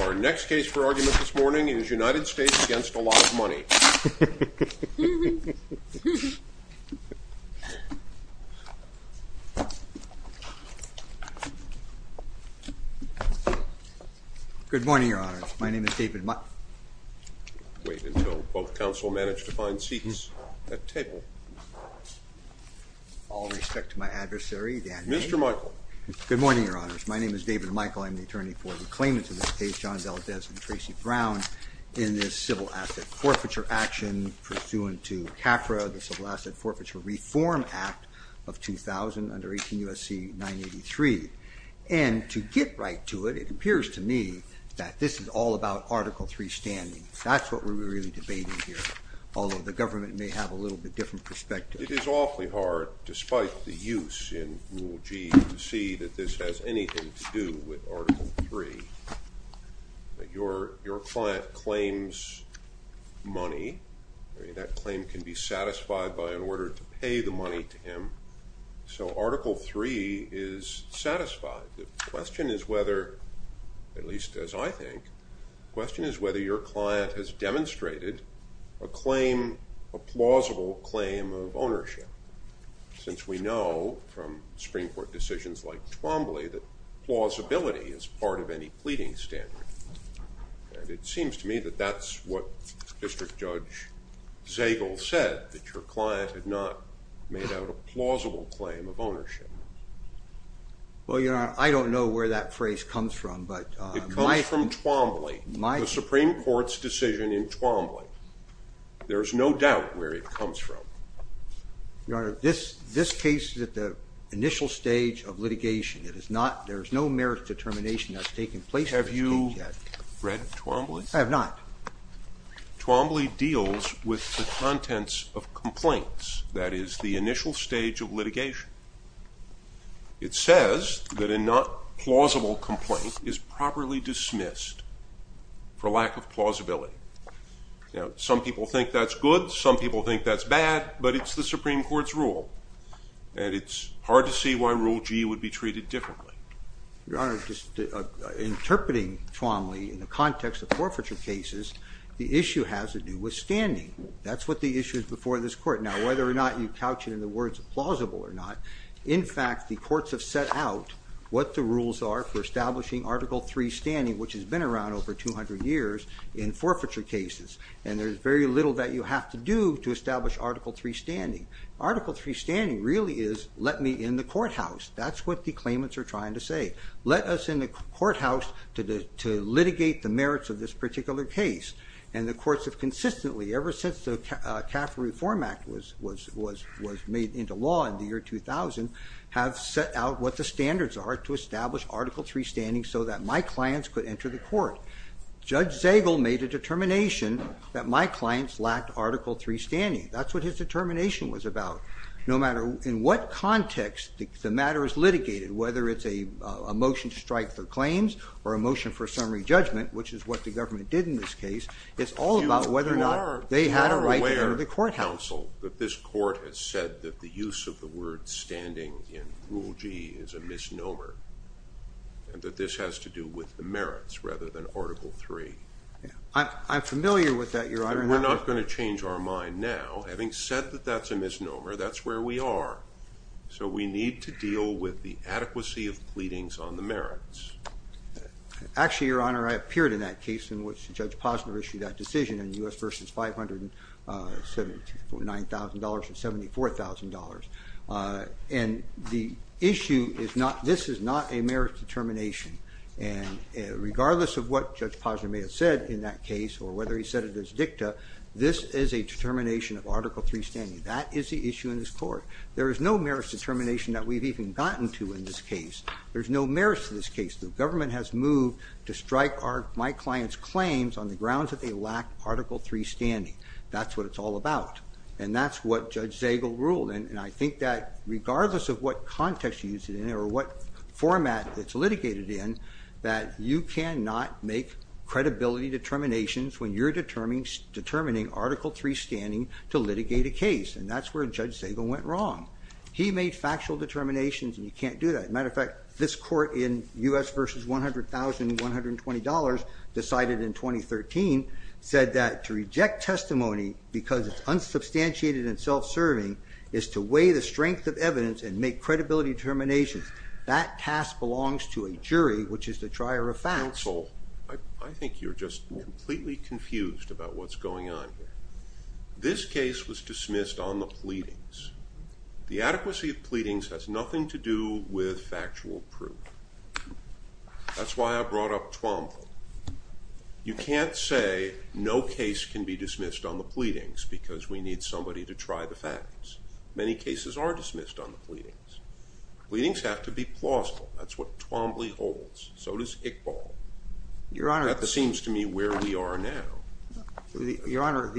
Our next case for argument this morning is United States v. A Lot of Money Good morning, Your Honors. My name is David Mi... Wait until both counsel manage to find seats at the table. All respect to my adversary, Dan... Mr. Michael. Good morning, Your Honors. My name is David Michael. I'm the attorney for the claimants of this case, John Valadez and Tracy Brown, in this civil asset forfeiture action pursuant to CAFRA, the Civil Asset Forfeiture Reform Act of 2000 under 18 U.S.C. 983. And to get right to it, it appears to me that this is all about Article III standing. That's what we're really debating here, although the government may have a little bit different perspective. It is awfully hard, despite the use in Rule G, to see that this has anything to do with Article III. Your client claims money. That claim can be satisfied by an order to pay the money to him. So Article III is satisfied. The question is whether, at least as I think, the question is whether your client has demonstrated a claim, a plausible claim of ownership. Since we know from Supreme Court decisions like Twombly that plausibility is part of any pleading standard. And it seems to me that that's what District Judge Zagel said, that your client had not made out a plausible claim of ownership. Well, Your Honor, I don't know where that phrase comes from, but... Your Honor, this case is at the initial stage of litigation. There is no merit determination that has taken place. Have you read Twombly? I have not. Twombly deals with the contents of complaints. That is the initial stage of litigation. It says that a not plausible complaint is properly dismissed for lack of plausibility. Now, some people think that's good, some people think that's bad, but it's the Supreme Court's rule. And it's hard to see why Rule G would be treated differently. Your Honor, just interpreting Twombly in the context of forfeiture cases, the issue has to do with standing. That's what the issue is before this Court. Now, whether or not you couch it in the words plausible or not, in fact, the courts have set out what the rules are for establishing Article III standing, which has been around over 200 years in forfeiture cases. And there's very little that you have to do to establish Article III standing. Article III standing really is, let me in the courthouse. That's what the claimants are trying to say. Let us in the courthouse to litigate the merits of this particular case. And the courts have consistently, ever since the CAFRA Reform Act was made into law in the year 2000, have set out what the standards are to establish Article III standing so that my clients could enter the court. Judge Zagel made a determination that my clients lacked Article III standing. That's what his determination was about. No matter in what context the matter is litigated, whether it's a motion to strike for claims or a motion for summary judgment, which is what the government did in this case, it's all about whether or not they had a right to go to the courthouse. You are aware, counsel, that this Court has said that the use of the word standing in Rule G is a misnomer, and that this has to do with the merits rather than Article III. I'm familiar with that, Your Honor. We're not going to change our mind now. Having said that that's a misnomer, that's where we are. So we need to deal with the adequacy of pleadings on the merits. Actually, Your Honor, I appeared in that case in which Judge Posner issued that decision in U.S. v. $509,000 or $74,000. And the issue is not, this is not a merits determination. And regardless of what Judge Posner may have said in that case or whether he said it as dicta, this is a determination of Article III standing. That is the issue in this Court. There is no merits determination that we've even gotten to in this case. There's no merits to this case. The government has moved to strike my client's claims on the grounds that they lack Article III standing. That's what it's all about. And that's what Judge Zagel ruled. And I think that regardless of what context you use it in or what format it's litigated in, that you cannot make credibility determinations when you're determining Article III standing to litigate a case. And that's where Judge Zagel went wrong. He made factual determinations, and you can't do that. As a matter of fact, this Court in U.S. v. $100,120 decided in 2013, said that to reject testimony because it's unsubstantiated and self-serving is to weigh the strength of evidence and make credibility determinations. That task belongs to a jury, which is the trier of facts. Counsel, I think you're just completely confused about what's going on here. This case was dismissed on the pleadings. The adequacy of pleadings has nothing to do with factual proof. That's why I brought up Twombly. You can't say no case can be dismissed on the pleadings because we need somebody to try the facts. Many cases are dismissed on the pleadings. Pleadings have to be plausible. That's what Twombly holds. So does Iqbal. That seems to me where we are now. Your Honor,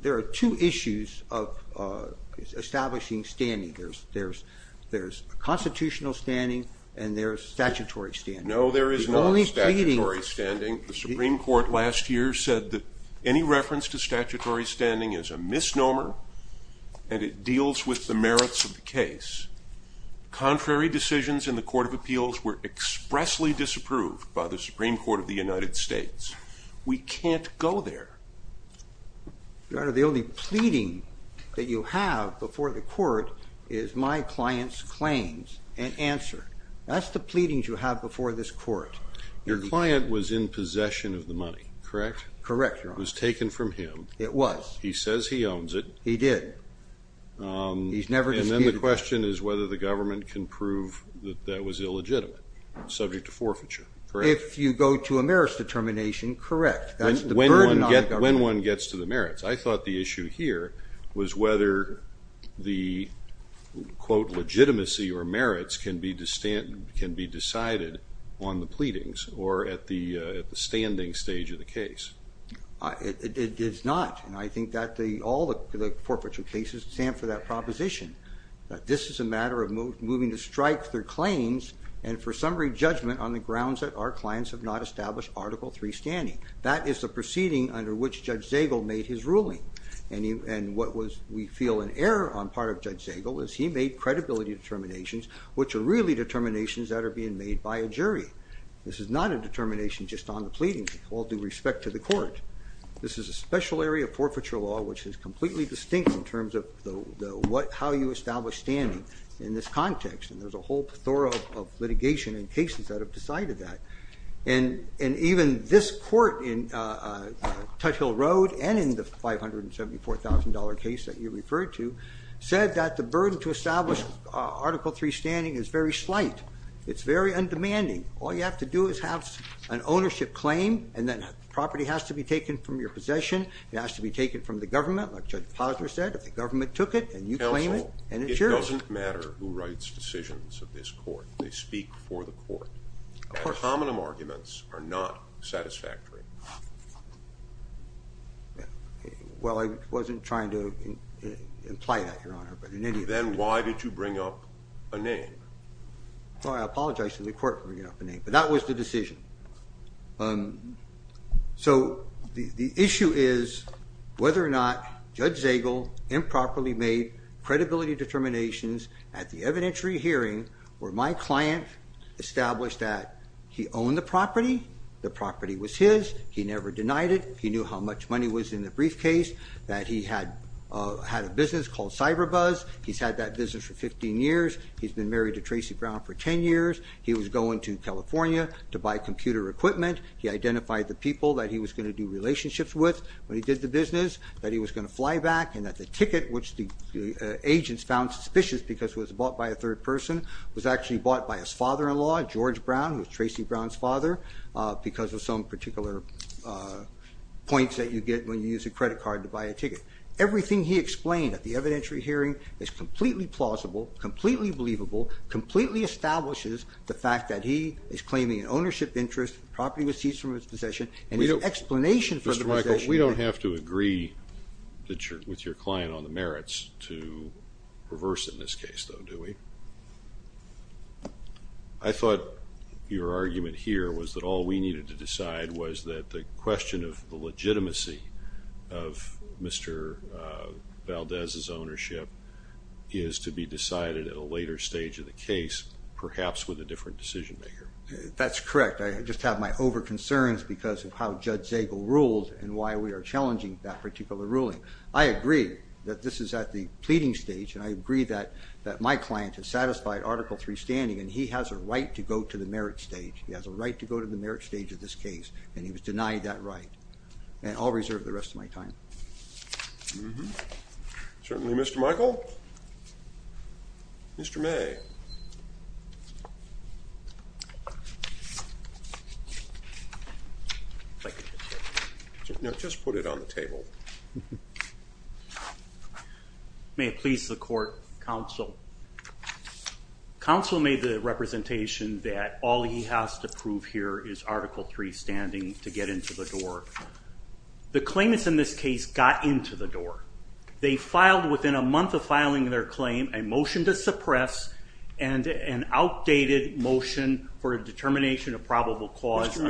there are two issues of establishing standing. There's constitutional standing and there's statutory standing. No, there is not statutory standing. The Supreme Court last year said that any reference to statutory standing is a misnomer, and it deals with the merits of the case. Contrary decisions in the Court of Appeals were expressly disapproved by the Supreme Court of the United States. We can't go there. Your Honor, the only pleading that you have before the court is my client's claims and answer. That's the pleadings you have before this court. Your client was in possession of the money, correct? Correct, Your Honor. It was taken from him. It was. He says he owns it. He did. He's never disputed it. And then the question is whether the government can prove that that was illegitimate, subject to forfeiture, correct? If you go to a merits determination, correct. That's the burden on the government. When one gets to the merits, I thought the issue here was whether the, quote, legitimacy or merits can be decided on the pleadings or at the standing stage of the case. It is not, and I think that all the forfeiture cases stand for that proposition. This is a matter of moving to strike their claims and for summary judgment on the grounds that our clients have not established Article III standing. That is the proceeding under which Judge Zagel made his ruling. And what we feel an error on part of Judge Zagel is he made credibility determinations, which are really determinations that are being made by a jury. This is not a determination just on the pleadings, all due respect to the court. This is a special area of forfeiture law, which is completely distinct in terms of how you establish standing in this context. And there's a whole plethora of litigation and cases that have decided that. And even this court in Tuthill Road and in the $574,000 case that you referred to, said that the burden to establish Article III standing is very slight. It's very undemanding. All you have to do is have an ownership claim, and then property has to be taken from your possession. It has to be taken from the government, like Judge Posner said. The government took it, and you claim it, and it's yours. Counsel, it doesn't matter who writes decisions of this court. They speak for the court. Of course. Ad hominem arguments are not satisfactory. Well, I wasn't trying to imply that, Your Honor, but in any event. Then why did you bring up a name? Well, I apologize to the court for bringing up a name, but that was the decision. So the issue is whether or not Judge Zagel improperly made credibility determinations at the evidentiary hearing where my client established that he owned the property, the property was his, he never denied it, he knew how much money was in the briefcase, that he had a business called Cyber Buzz, he's had that business for 15 years, he's been married to Tracy Brown for 10 years, he was going to California to buy computer equipment, he identified the people that he was going to do relationships with when he did the business, that he was going to fly back, and that the ticket, which the agents found suspicious because it was bought by a third person, was actually bought by his father-in-law, George Brown, who was Tracy Brown's father, because of some particular points that you get when you use a credit card to buy a ticket. Everything he explained at the evidentiary hearing is completely plausible, completely believable, completely establishes the fact that he is claiming an ownership interest, the property was seized from his possession, and his explanation for the possession... Mr. Michael, we don't have to agree with your client on the merits to reverse it in this case, though, do we? I thought your argument here was that all we needed to decide was that the question of the legitimacy of Mr. Valdez's ownership is to be decided at a later stage of the case, perhaps with a different decision-maker. That's correct. I just have my over-concerns because of how Judge Zagel ruled and why we are challenging that particular ruling. I agree that this is at the pleading stage, and I agree that my client has satisfied Article III standing, and he has a right to go to the merits stage. He has a right to go to the merits stage of this case, and he was denied that right. And I'll reserve the rest of my time. Certainly, Mr. Michael. Mr. May. Now just put it on the table. May it please the court, counsel. Counsel made the representation that all he has to prove here is Article III standing to get into the door. The claimants in this case got into the door. They filed, within a month of filing their claim, a motion to suppress and an outdated motion for a determination of probable cause. Mr.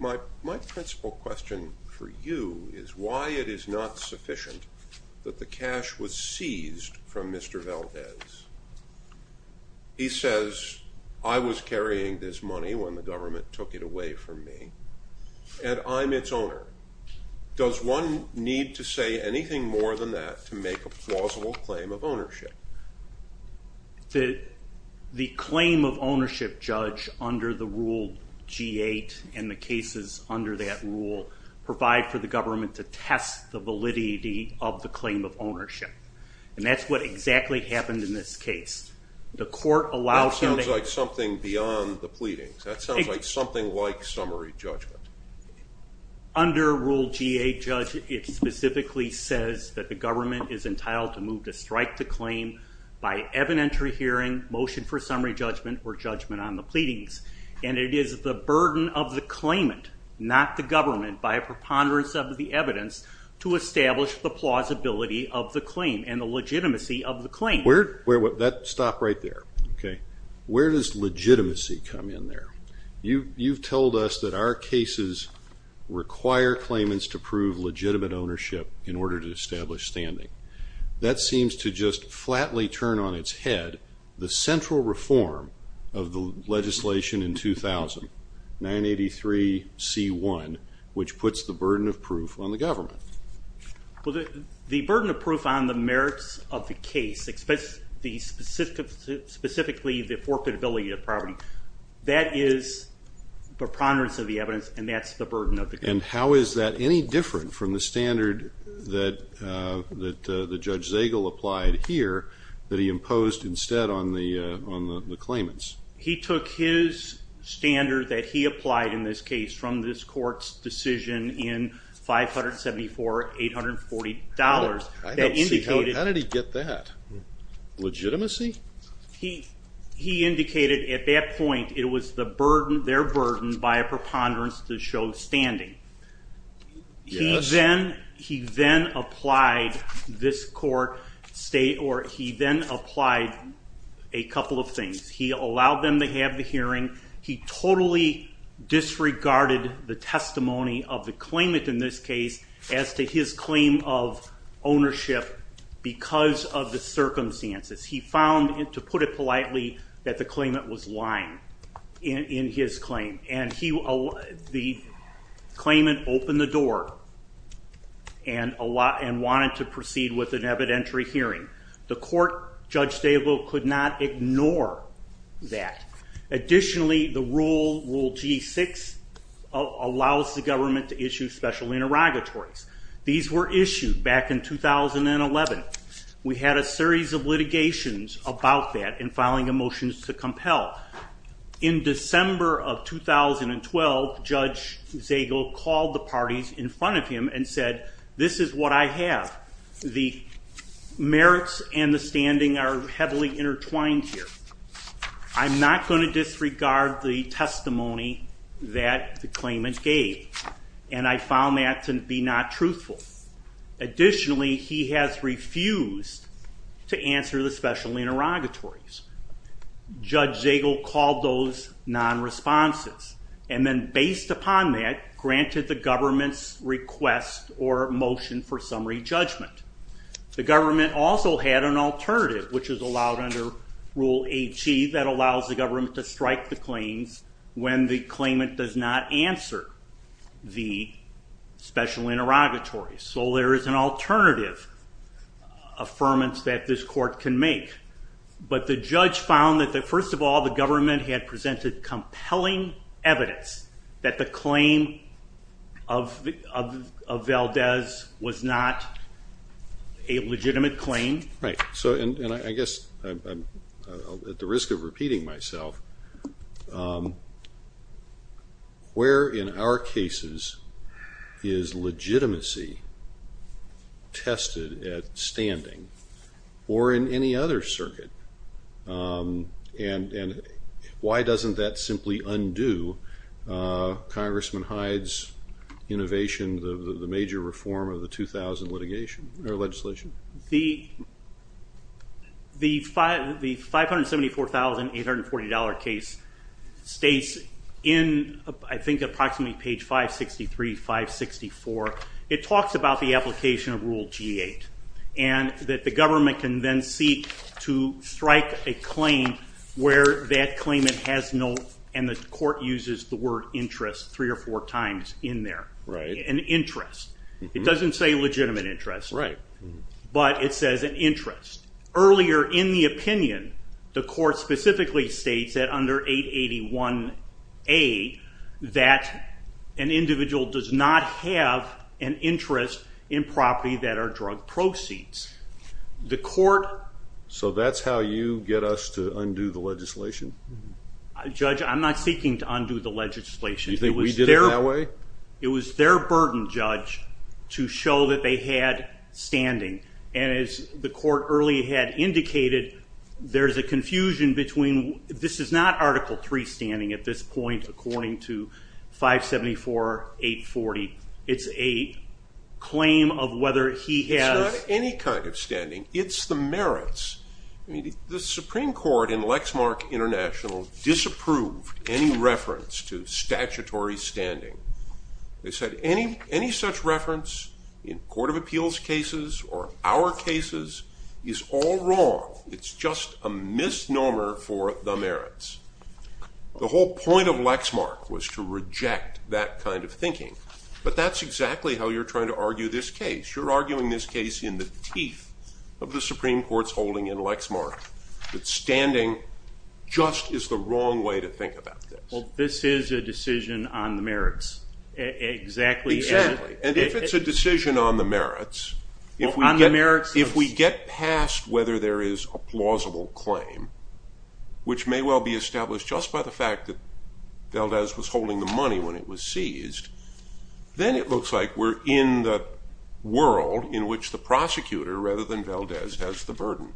May, my principal question for you is why it is not sufficient that the cash was seized from Mr. Valdez. He says, I was carrying this money when the government took it away from me, and I'm its owner. Does one need to say anything more than that to make a plausible claim of ownership? The claim of ownership, Judge, under the rule G-8 and the cases under that rule provide for the government to test the validity of the claim of ownership. And that's what exactly happened in this case. That sounds like something beyond the pleadings. That sounds like something like summary judgment. Under rule G-8, Judge, it specifically says that the government is entitled to move to strike the claim by evidentiary hearing, motion for summary judgment, or judgment on the pleadings. And it is the burden of the claimant, not the government, by a preponderance of the evidence to establish the plausibility of the claim and the legitimacy of the claim. Stop right there. Where does legitimacy come in there? You've told us that our cases require claimants to prove legitimate ownership in order to establish standing. That seems to just flatly turn on its head the central reform of the legislation in 2000, 983C1, which puts the burden of proof on the government. Well, the burden of proof on the merits of the case, specifically the forfeitability of property, that is preponderance of the evidence, and that's the burden of the case. And how is that any different from the standard that Judge Zagel applied here that he imposed instead on the claimants? He took his standard that he applied in this case from this court's decision in 574-840 dollars. How did he get that? Legitimacy? He indicated at that point it was their burden by a preponderance to show standing. He then applied a couple of things. He allowed them to have the hearing. He totally disregarded the testimony of the claimant in this case as to his claim of ownership because of the circumstances. He found, to put it politely, that the claimant was lying in his claim. And the claimant opened the door and wanted to proceed with an evidentiary hearing. The court, Judge Zagel, could not ignore that. Additionally, the rule, Rule G6, allows the government to issue special interrogatories. These were issued back in 2011. We had a series of litigations about that and filing a motion to compel. In December of 2012, Judge Zagel called the parties in front of him and said, This is what I have. The merits and the standing are heavily intertwined here. I'm not going to disregard the testimony that the claimant gave. And I found that to be not truthful. Additionally, he has refused to answer the special interrogatories. Judge Zagel called those non-responses. And then based upon that, granted the government's request or motion for summary judgment. The government also had an alternative, which was allowed under Rule 8G, that allows the government to strike the claims when the claimant does not answer the special interrogatories. So there is an alternative affirmance that this court can make. But the judge found that, first of all, the government had presented compelling evidence that the claim of Valdez was not a legitimate claim. Right. And I guess I'm at the risk of repeating myself. Where in our cases is legitimacy tested at standing or in any other circuit? And why doesn't that simply undo Congressman Hyde's innovation, the major reform of the 2000 legislation? The $574,840 case states in, I think, approximately page 563, 564, it talks about the application of Rule G8. And that the government can then seek to strike a claim where that claimant has no and the court uses the word interest three or four times in there. Right. An interest. It doesn't say legitimate interest. Right. But it says an interest. Earlier in the opinion, the court specifically states that under 881A, that an individual does not have an interest in property that are drug proceeds. So that's how you get us to undo the legislation? Judge, I'm not seeking to undo the legislation. You think we did it that way? It was their burden, Judge, to show that they had standing. And as the court earlier had indicated, there's a confusion between this is not Article III standing at this point according to 574,840. It's a claim of whether he has. It's not any kind of standing. It's the merits. The Supreme Court in Lexmark International disapproved any reference to They said any such reference in court of appeals cases or our cases is all wrong. It's just a misnomer for the merits. The whole point of Lexmark was to reject that kind of thinking. But that's exactly how you're trying to argue this case. You're arguing this case in the teeth of the Supreme Court's holding in Lexmark, that standing just is the wrong way to think about this. Well, this is a decision on the merits. Exactly. Exactly. And if it's a decision on the merits, if we get past whether there is a plausible claim, which may well be established just by the fact that Valdez was holding the money when it was seized, then it looks like we're in the world in which the prosecutor, rather than Valdez, has the burden.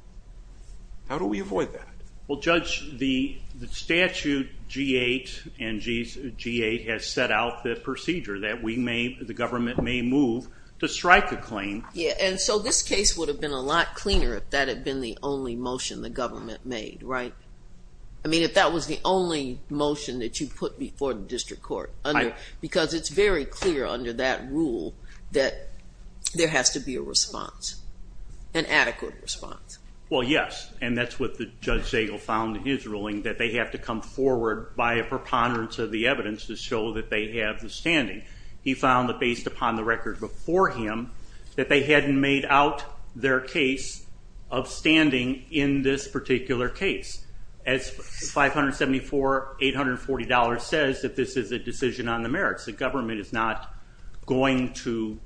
How do we avoid that? Well, Judge, the statute G-8 and G-8 has set out the procedure that the government may move to strike a claim. Yeah, and so this case would have been a lot cleaner if that had been the only motion the government made, right? I mean, if that was the only motion that you put before the district court, because it's very clear under that rule that there has to be a response, an adequate response. Well, yes, and that's what Judge Zagel found in his ruling, that they have to come forward by a preponderance of the evidence to show that they have the standing. He found that based upon the record before him that they hadn't made out their case of standing in this particular case. As $574, $840 says that this is a decision on the merits. The government is not going to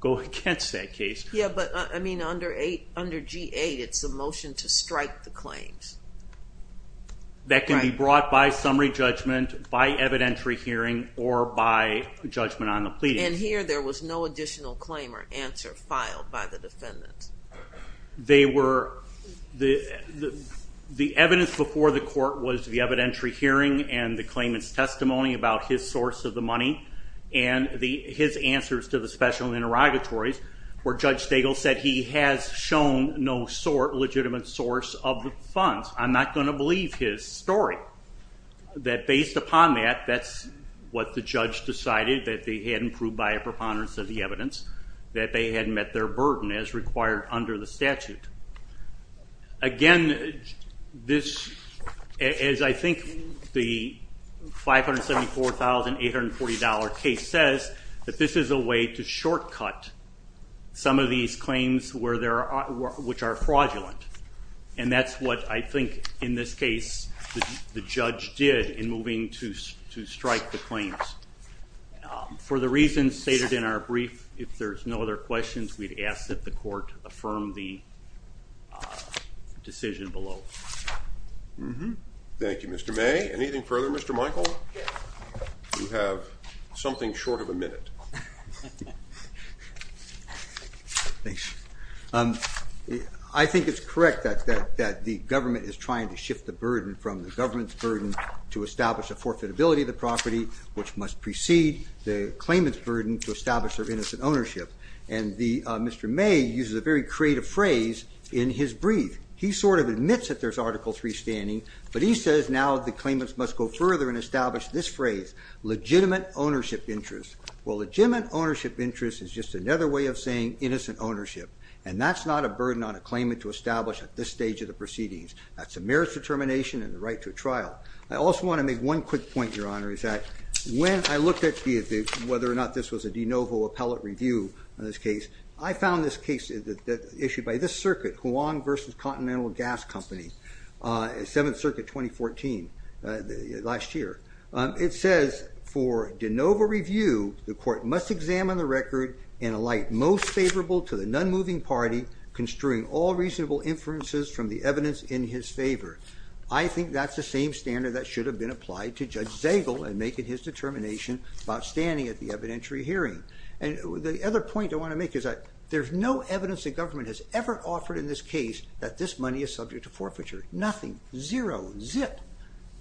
go against that case. Yeah, but I mean, under G-8, it's a motion to strike the claims. That can be brought by summary judgment, by evidentiary hearing, or by judgment on the pleading. And here there was no additional claim or answer filed by the defendant. The evidence before the court was the evidentiary hearing and the claimant's testimony about his source of the money, and his answers to the special interrogatories, where Judge Zagel said he has shown no legitimate source of the funds. I'm not going to believe his story. That based upon that, that's what the judge decided, that they hadn't proved by a preponderance of the evidence, that they hadn't met their burden as required under the statute. Again, as I think the $574, $840 case says, that this is a way to shortcut some of these claims which are fraudulent. And that's what I think, in this case, the judge did in moving to strike the claims. For the reasons stated in our brief, if there's no other questions, we'd ask that the court affirm the decision below. Thank you, Mr. May. Anything further, Mr. Michael? You have something short of a minute. Thanks. I think it's correct that the government is trying to shift the burden from the government's burden to establish the forfeitability of the property, which must precede the claimant's burden to establish their innocent ownership. And Mr. May uses a very creative phrase in his brief. He sort of admits that there's Article III standing, but he says now the claimants must go further and establish this phrase, legitimate ownership interest. Well, legitimate ownership interest is just another way of saying innocent ownership. And that's not a burden on a claimant to establish at this stage of the proceedings. That's a merits determination and the right to a trial. I also want to make one quick point, Your Honor, is that when I looked at whether or not this was a de novo appellate review in this case, I found this case issued by this circuit, Huang v. Continental Gas Company, 7th Circuit, 2014, last year. It says, for de novo review, the court must examine the record and alight most favorable to the non-moving party, construing all reasonable inferences from the evidence in his favor. I think that's the same standard that should have been applied to Judge Zegel in making his determination about standing at the evidentiary hearing. And the other point I want to make is that there's no evidence the government has ever offered in this case that this money is subject to forfeiture. Nothing. Zero. Zip.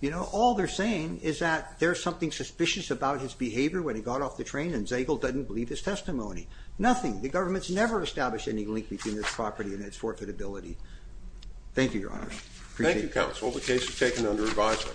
You know, all they're saying is that there's something suspicious about his behavior when he got off the train and Zegel doesn't believe his testimony. Nothing. The government's never established any link between this property and its forfeitability. Thank you, Your Honor. Appreciate it. Thank you, Counsel. The case is taken under advisement.